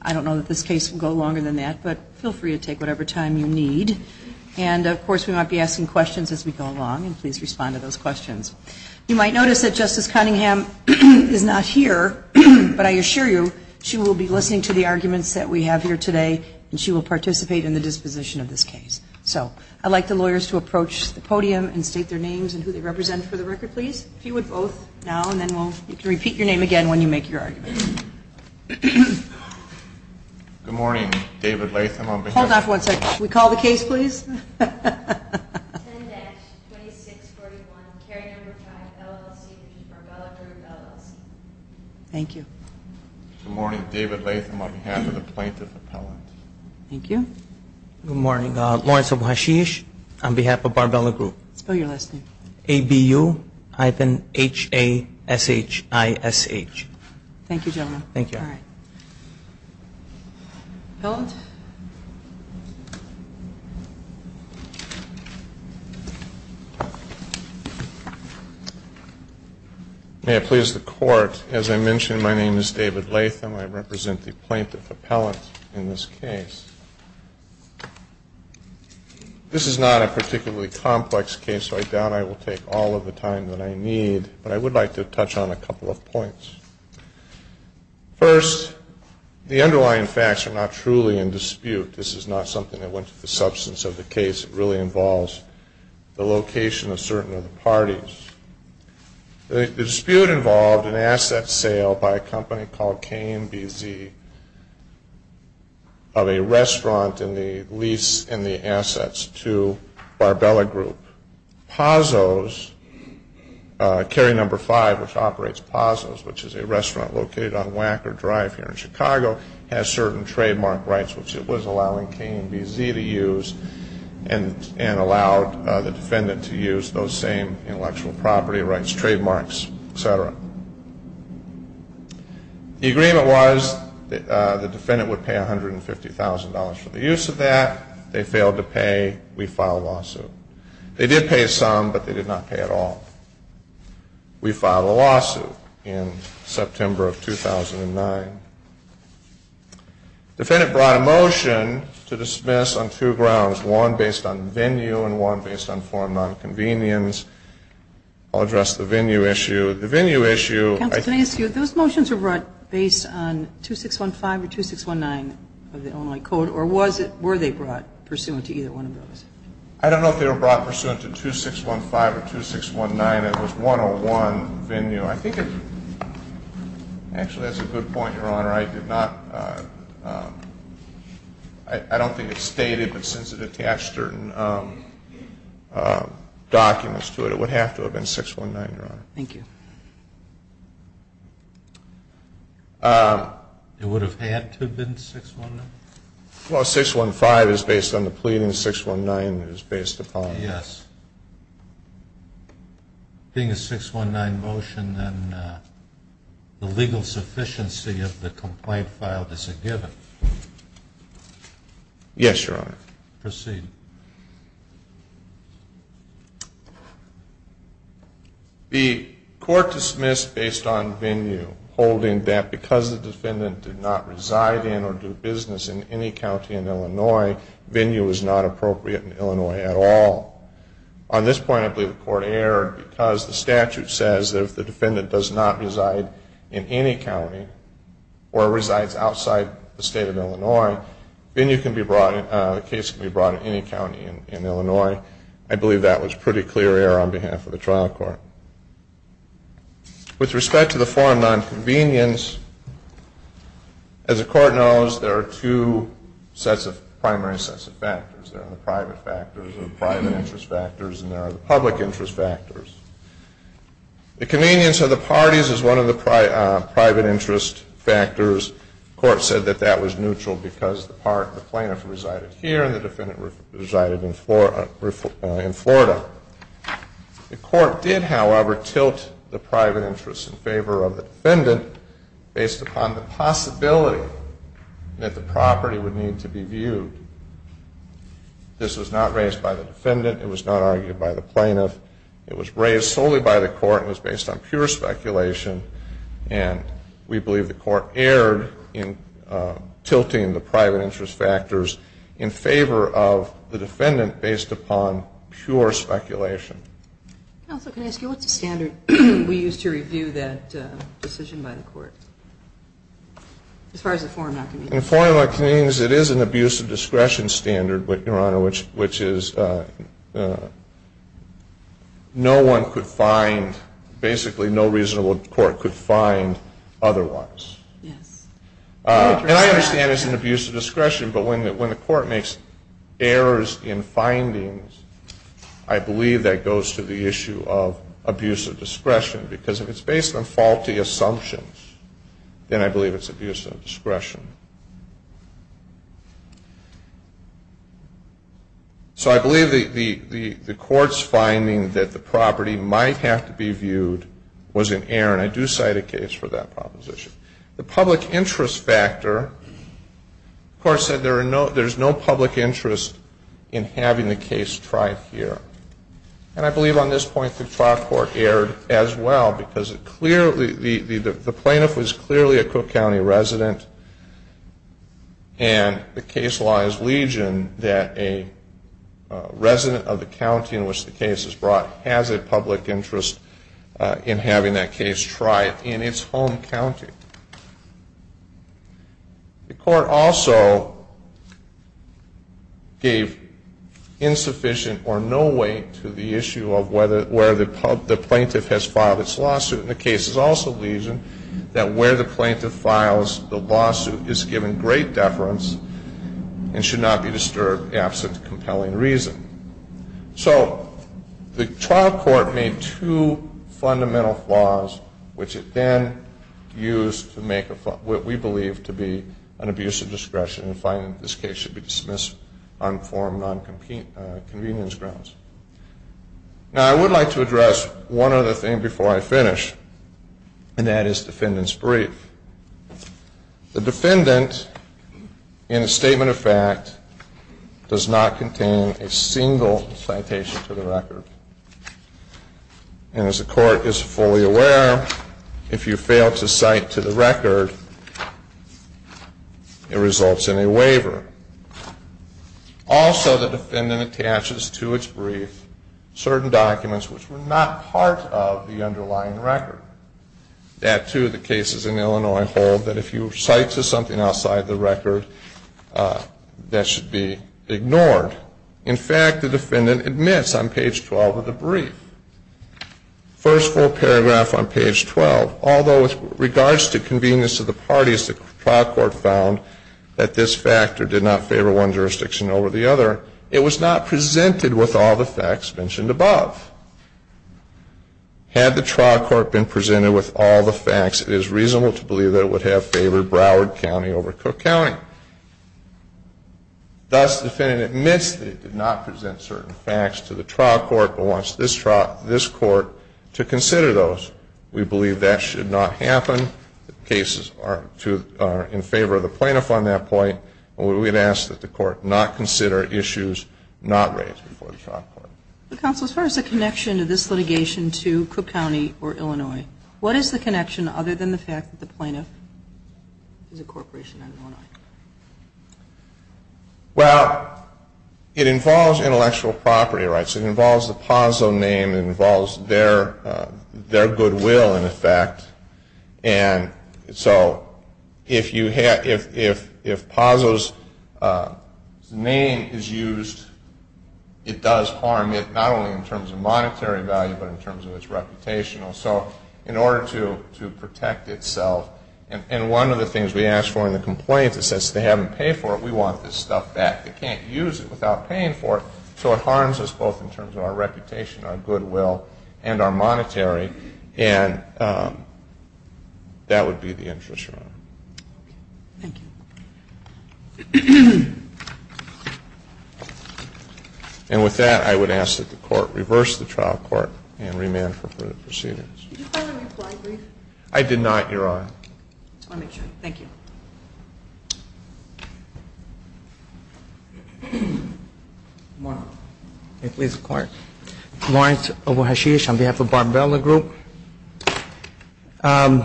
I don't know that this case will go longer than that, but feel free to take whatever time you need. And, of course, we might be asking questions as we go along, and please respond to those questions. You might notice that Justice Cunningham is not here, but I assure you she will be listening to the arguments that we have here today, and she will participate in the disposition of this case. So I'd like the lawyers to approach the podium and state their names and who they represent for the record, please. If you would both now, and then you can repeat your name again when you make your argument. Good morning. David Latham. Hold on for one second. Could we call the case, please? Thank you. Good morning. David Latham on behalf of the plaintiff's appellant. Thank you. Good morning. Lawrence Abuhashish on behalf of Barbella Group. Spell your last name. A-B-U-hyphen-H-A-S-H-I-S-H. Thank you, gentlemen. Thank you. All right. Appellant. May it please the Court, as I mentioned, my name is David Latham. I represent the plaintiff appellant in this case. This is not a particularly complex case, so I doubt I will take all of the time that I need, but I would like to touch on a couple of points. First, the underlying facts are not truly in dispute. This is not something that went to the substance of the case. It really involves the location of certain of the parties. The dispute involved an asset sale by a company called K&BZ of a restaurant in the lease and the assets to Barbella Group. Pazzo's, carry number five, which operates Pazzo's, which is a restaurant located on Wacker Drive here in Chicago, has certain trademark rights, which it was allowing K&BZ to use and allowed the defendant to use those same intellectual property rights, trademarks, et cetera. The agreement was that the defendant would pay $150,000 for the use of that. They failed to pay. We filed a lawsuit. They did pay some, but they did not pay at all. We filed a lawsuit in September of 2009. The defendant brought a motion to dismiss on two grounds, one based on venue and one based on form of nonconvenience. I'll address the venue issue. The venue issue, I think. Counsel, can I ask you, those motions were brought based on 2615 or 2619 of the Illinois Code, or were they brought pursuant to either one of those? I don't know if they were brought pursuant to 2615 or 2619. It was 101, venue. Actually, that's a good point, Your Honor. I don't think it's stated, but since it attached certain documents to it, it would have to have been 619, Your Honor. Thank you. It would have had to have been 619? Well, 615 is based on the pleading. 619 is based upon. Yes. Being a 619 motion, then the legal sufficiency of the complaint filed is a given. Yes, Your Honor. Proceed. The court dismissed based on venue, holding that because the defendant did not reside in or do business in any county in Illinois, venue is not appropriate in Illinois at all. On this point, I believe the court erred because the statute says that if the defendant does not reside in any county or resides outside the state of Illinois, venue can be brought, the case can be brought in any county in Illinois. I believe that was pretty clear error on behalf of the trial court. With respect to the form of nonconvenience, as the court knows, there are two primary sets of factors. There are the private factors, the private interest factors, and there are the public interest factors. The convenience of the parties is one of the private interest factors. The court said that that was neutral because the plaintiff resided here and the defendant resided in Florida. The court did, however, tilt the private interests in favor of the defendant based upon the possibility that the property would need to be viewed. This was not raised by the defendant. It was not argued by the plaintiff. It was raised solely by the court and was based on pure speculation, and we believe the court erred in tilting the private interest factors in favor of the defendant based upon pure speculation. Counsel, can I ask you what standard we use to review that decision by the court as far as the form of nonconvenience? The form of nonconvenience, it is an abuse of discretion standard, Your Honor, which is no one could find, basically no reasonable court could find otherwise. Yes. And I understand it's an abuse of discretion, but when the court makes errors in findings, I believe that goes to the issue of abuse of discretion because if it's based on faulty assumptions, then I believe it's abuse of discretion. So I believe the court's finding that the property might have to be viewed was in error, and I do cite a case for that proposition. The public interest factor, the court said there's no public interest in having the case tried here. And I believe on this point the trial court erred as well because the plaintiff was clearly a Cook County resident, and the case law is legion that a resident of the county in which the case is brought has a public interest in having that case tried in its home county. The court also gave insufficient or no weight to the issue of where the plaintiff has filed its lawsuit. And the case is also legion that where the plaintiff files the lawsuit is given great deference and should not be disturbed absent compelling reason. So the trial court made two fundamental flaws, which it then used to make what we believe to be an abuse of discretion and find that this case should be dismissed on form non-convenience grounds. Now I would like to address one other thing before I finish, and that is defendant's brief. The defendant, in a statement of fact, does not contain a single citation to the record. And as the court is fully aware, if you fail to cite to the record, it results in a waiver. Also, the defendant attaches to its brief certain documents which were not part of the underlying record. That, too, the cases in Illinois hold that if you cite to something outside the record, that should be ignored. In fact, the defendant admits on page 12 of the brief, first full paragraph on page 12, although with regards to convenience of the parties, the trial court found that this factor did not favor one jurisdiction over the other, it was not presented with all the facts mentioned above. Had the trial court been presented with all the facts, it is reasonable to believe that it would have favored Broward County over Cook County. Thus, the defendant admits that it did not present certain facts to the trial court, but wants this court to consider those. We believe that should not happen. The cases are in favor of the plaintiff on that point, and we would ask that the court not consider issues not raised before the trial court. Counsel, as far as the connection to this litigation to Cook County or Illinois, what is the connection other than the fact that the plaintiff is a corporation in Illinois? Well, it involves intellectual property rights. It involves the Pozzo name. It involves their goodwill, in effect. And so if Pozzo's name is used, it does harm it, not only in terms of monetary value, but in terms of its reputation. So in order to protect itself, and one of the things we ask for in the complaint is that since they haven't paid for it, we want this stuff back. They can't use it without paying for it, so it harms us both in terms of our reputation, our goodwill, and our monetary. And that would be the interest, Your Honor. Thank you. And with that, I would ask that the court reverse the trial court and remand for further procedures. Did you find a reply brief? I did not, Your Honor. I want to make sure. Thank you. Lawrence. May it please the Court. Lawrence Obohashish on behalf of Barbella Group. I'd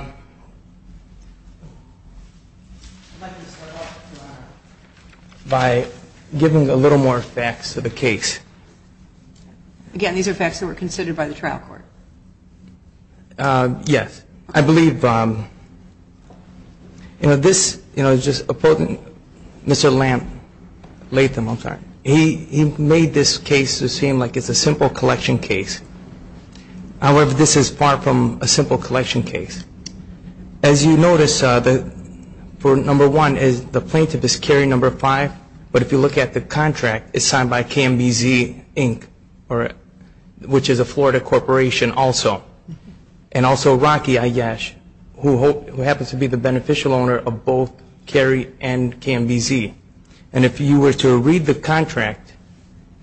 like to start off, Your Honor, by giving a little more facts to the case. Again, these are facts that were considered by the trial court. Yes. I believe, you know, this, you know, just a potent, Mr. Latham, I'm sorry, he made this case to seem like it's a simple collection case. However, this is far from a simple collection case. As you notice, for number one, the plaintiff is Cary number five, but if you look at the contract, it's signed by KMBZ, Inc., which is a Florida corporation also, and also Rocky Iyash, who happens to be the beneficial owner of both Cary and KMBZ. And if you were to read the contract,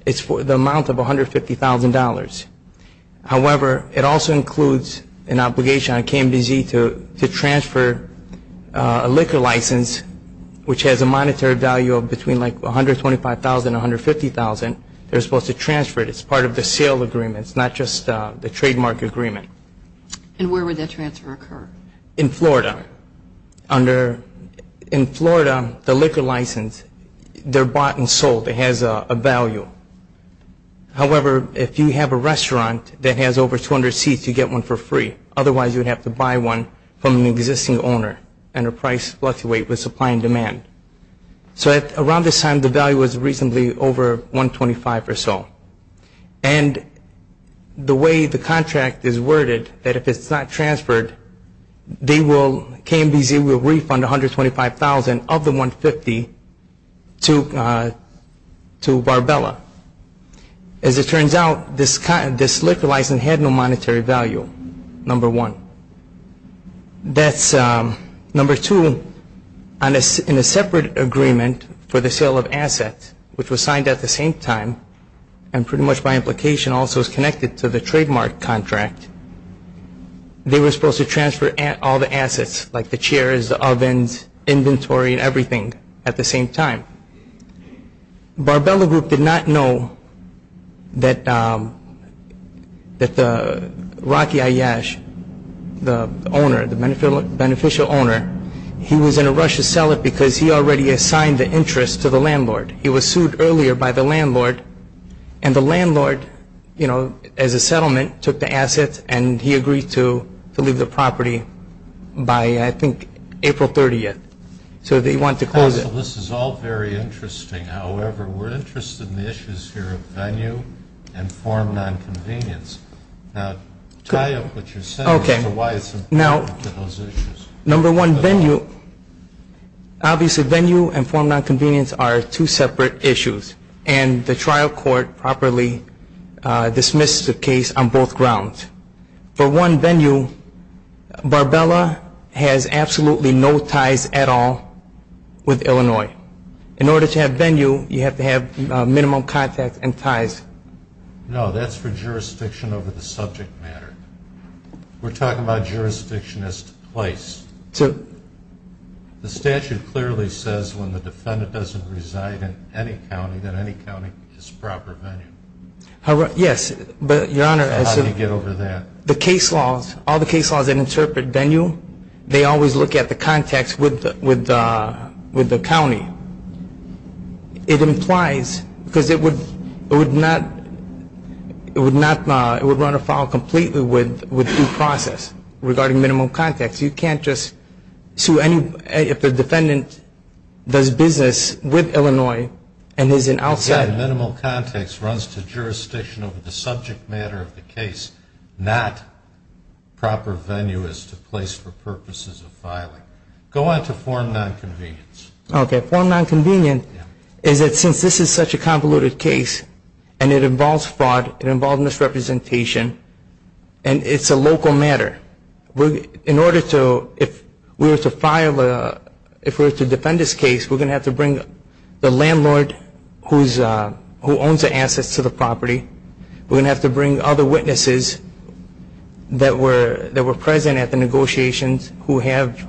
it's for the amount of $150,000. However, it also includes an obligation on KMBZ to transfer a liquor license, which has a monetary value of between like $125,000 and $150,000. They're supposed to transfer it. It's part of the sale agreement. It's not just the trademark agreement. And where would that transfer occur? In Florida. In Florida, the liquor license, they're bought and sold. It has a value. However, if you have a restaurant that has over 200 seats, you get one for free. Otherwise, you would have to buy one from an existing owner, and the price fluctuates with supply and demand. So around this time, the value was reasonably over $125,000 or so. And the way the contract is worded, that if it's not transferred, KMBZ will refund $125,000 of the $150,000 to Barbella. As it turns out, this liquor license had no monetary value, number one. Number two, in a separate agreement for the sale of assets, which was signed at the same time and pretty much by implication also is connected to the trademark contract, they were supposed to transfer all the assets, like the chairs, the ovens, inventory, and everything at the same time. Barbella Group did not know that Rocky Iyash, the owner, the beneficial owner, he was in a rush to sell it because he already assigned the interest to the landlord. He was sued earlier by the landlord, and the landlord, you know, as a settlement, took the assets and he agreed to leave the property by, I think, April 30th. So they wanted to close it. So this is all very interesting. However, we're interested in the issues here of venue and form nonconvenience. Now tie up what you're saying as to why it's important to those issues. Number one, venue, obviously venue and form nonconvenience are two separate issues, and the trial court properly dismissed the case on both grounds. For one, venue, Barbella has absolutely no ties at all with Illinois. In order to have venue, you have to have minimum contact and ties. No, that's for jurisdiction over the subject matter. We're talking about jurisdiction as to place. The statute clearly says when the defendant doesn't reside in any county, that any county is proper venue. Yes, but, Your Honor. How do you get over that? The case laws, all the case laws that interpret venue, they always look at the context with the county. It implies, because it would not, it would run afoul completely with due process regarding minimum context. You can't just sue any, if the defendant does business with Illinois and is an outsider. Minimal context runs to jurisdiction over the subject matter of the case, not proper venue as to place for purposes of filing. Go on to form nonconvenience. Okay, form nonconvenience is that since this is such a convoluted case and it involves fraud, it involves misrepresentation, and it's a local matter, in order to, if we were to file, if we were to defend this case, we're going to have to bring the landlord who owns the assets to the property. We're going to have to bring other witnesses that were present at the negotiations who have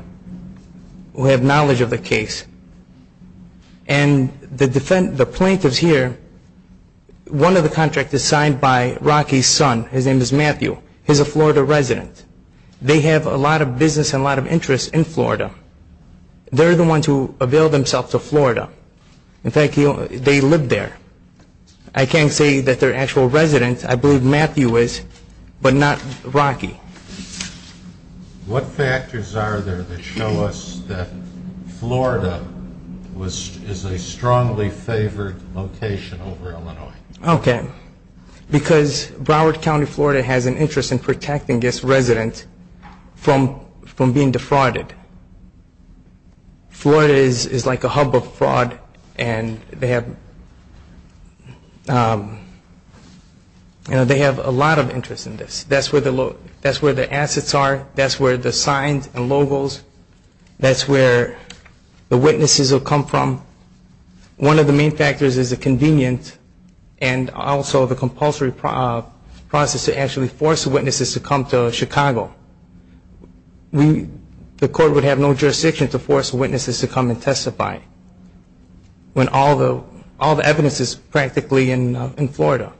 knowledge of the case. And the plaintiffs here, one of the contracts is signed by Rocky's son. His name is Matthew. He's a Florida resident. They have a lot of business and a lot of interest in Florida. They're the ones who avail themselves of Florida. In fact, they live there. I can't say that they're actual residents. I believe Matthew is, but not Rocky. What factors are there that show us that Florida is a strongly favored location over Illinois? Okay, because Broward County, Florida, has an interest in protecting this resident from being defrauded. Florida is like a hub of fraud, and they have a lot of interest in this. That's where the assets are. That's where the signs and logos. That's where the witnesses will come from. One of the main factors is the convenience and also the compulsory process to actually force witnesses to come to Chicago. The court would have no jurisdiction to force witnesses to come and testify when all the evidence is practically in Florida.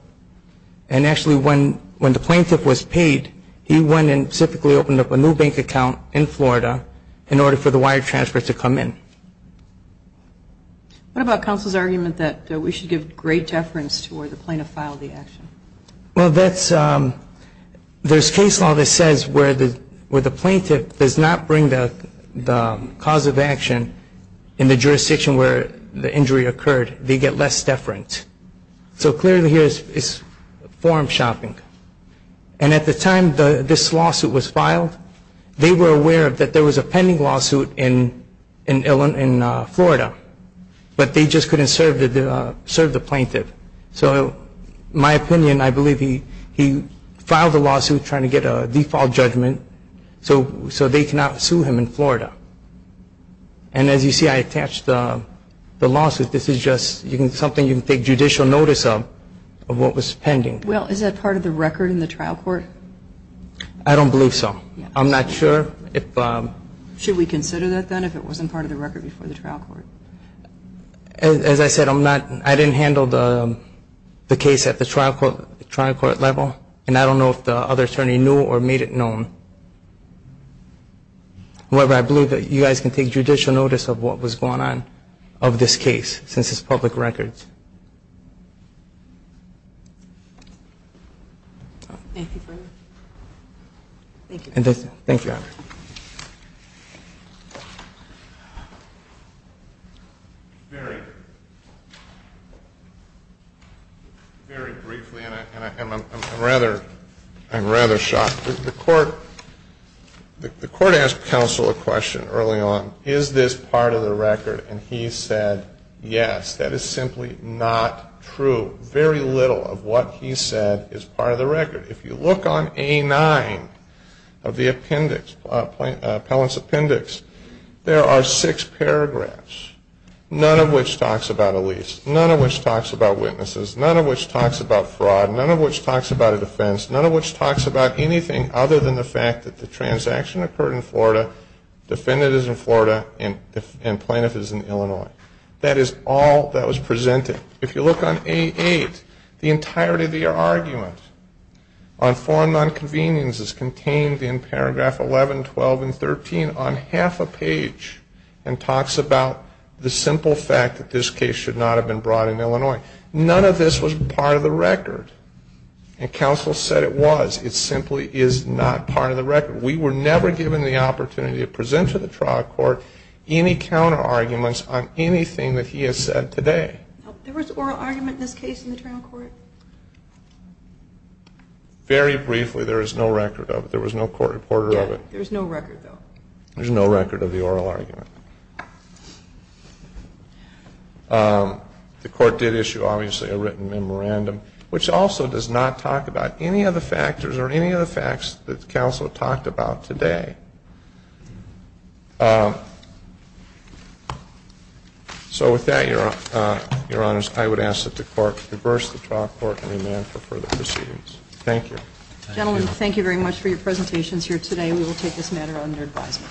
Actually, when the plaintiff was paid, he went and specifically opened up a new bank account in Florida in order for the wire transfer to come in. What about counsel's argument that we should give great deference to where the plaintiff filed the action? Well, there's case law that says where the plaintiff does not bring the cause of action in the jurisdiction where the injury occurred, they get less deference. So clearly here it's form shopping. And at the time this lawsuit was filed, they were aware that there was a pending lawsuit in Florida, but they just couldn't serve the plaintiff. So my opinion, I believe he filed the lawsuit trying to get a default judgment so they cannot sue him in Florida. And as you see, I attached the lawsuit. This is just something you can take judicial notice of what was pending. Well, is that part of the record in the trial court? I don't believe so. I'm not sure. Should we consider that then if it wasn't part of the record before the trial court? As I said, I didn't handle the case at the trial court level, and I don't know if the other attorney knew or made it known. However, I believe that you guys can take judicial notice of what was going on of this case since it's public record. Thank you. Thank you. Thank you. Very briefly, and I'm rather shocked. The court asked counsel a question early on. Is this part of the record? And he said yes. That is simply not true. Very little of what he said is part of the record. If you look on A-9 of the appellant's appendix, there are six paragraphs, none of which talks about a lease, none of which talks about witnesses, none of which talks about fraud, none of which talks about a defense, none of which talks about anything other than the fact that the transaction occurred in Florida, defendant is in Florida, and plaintiff is in Illinois. That is all that was presented. If you look on A-8, the entirety of the argument on foreign nonconvenience is contained in paragraph 11, 12, and 13 on half a page and talks about the simple fact that this case should not have been brought in Illinois. None of this was part of the record. And counsel said it was. It simply is not part of the record. We were never given the opportunity to present to the trial court any counterarguments on anything that he has said today. There was oral argument in this case in the trial court? Very briefly, there is no record of it. There was no court reporter of it. There is no record, though? There is no record of the oral argument. The court did issue, obviously, a written memorandum, which also does not talk about any of the factors or any of the facts that counsel talked about today. So with that, Your Honors, I would ask that the court reverse the trial court and remand for further proceedings. Thank you. Gentlemen, thank you very much for your presentations here today. We will take this matter under advisement. Thank you. Thank you.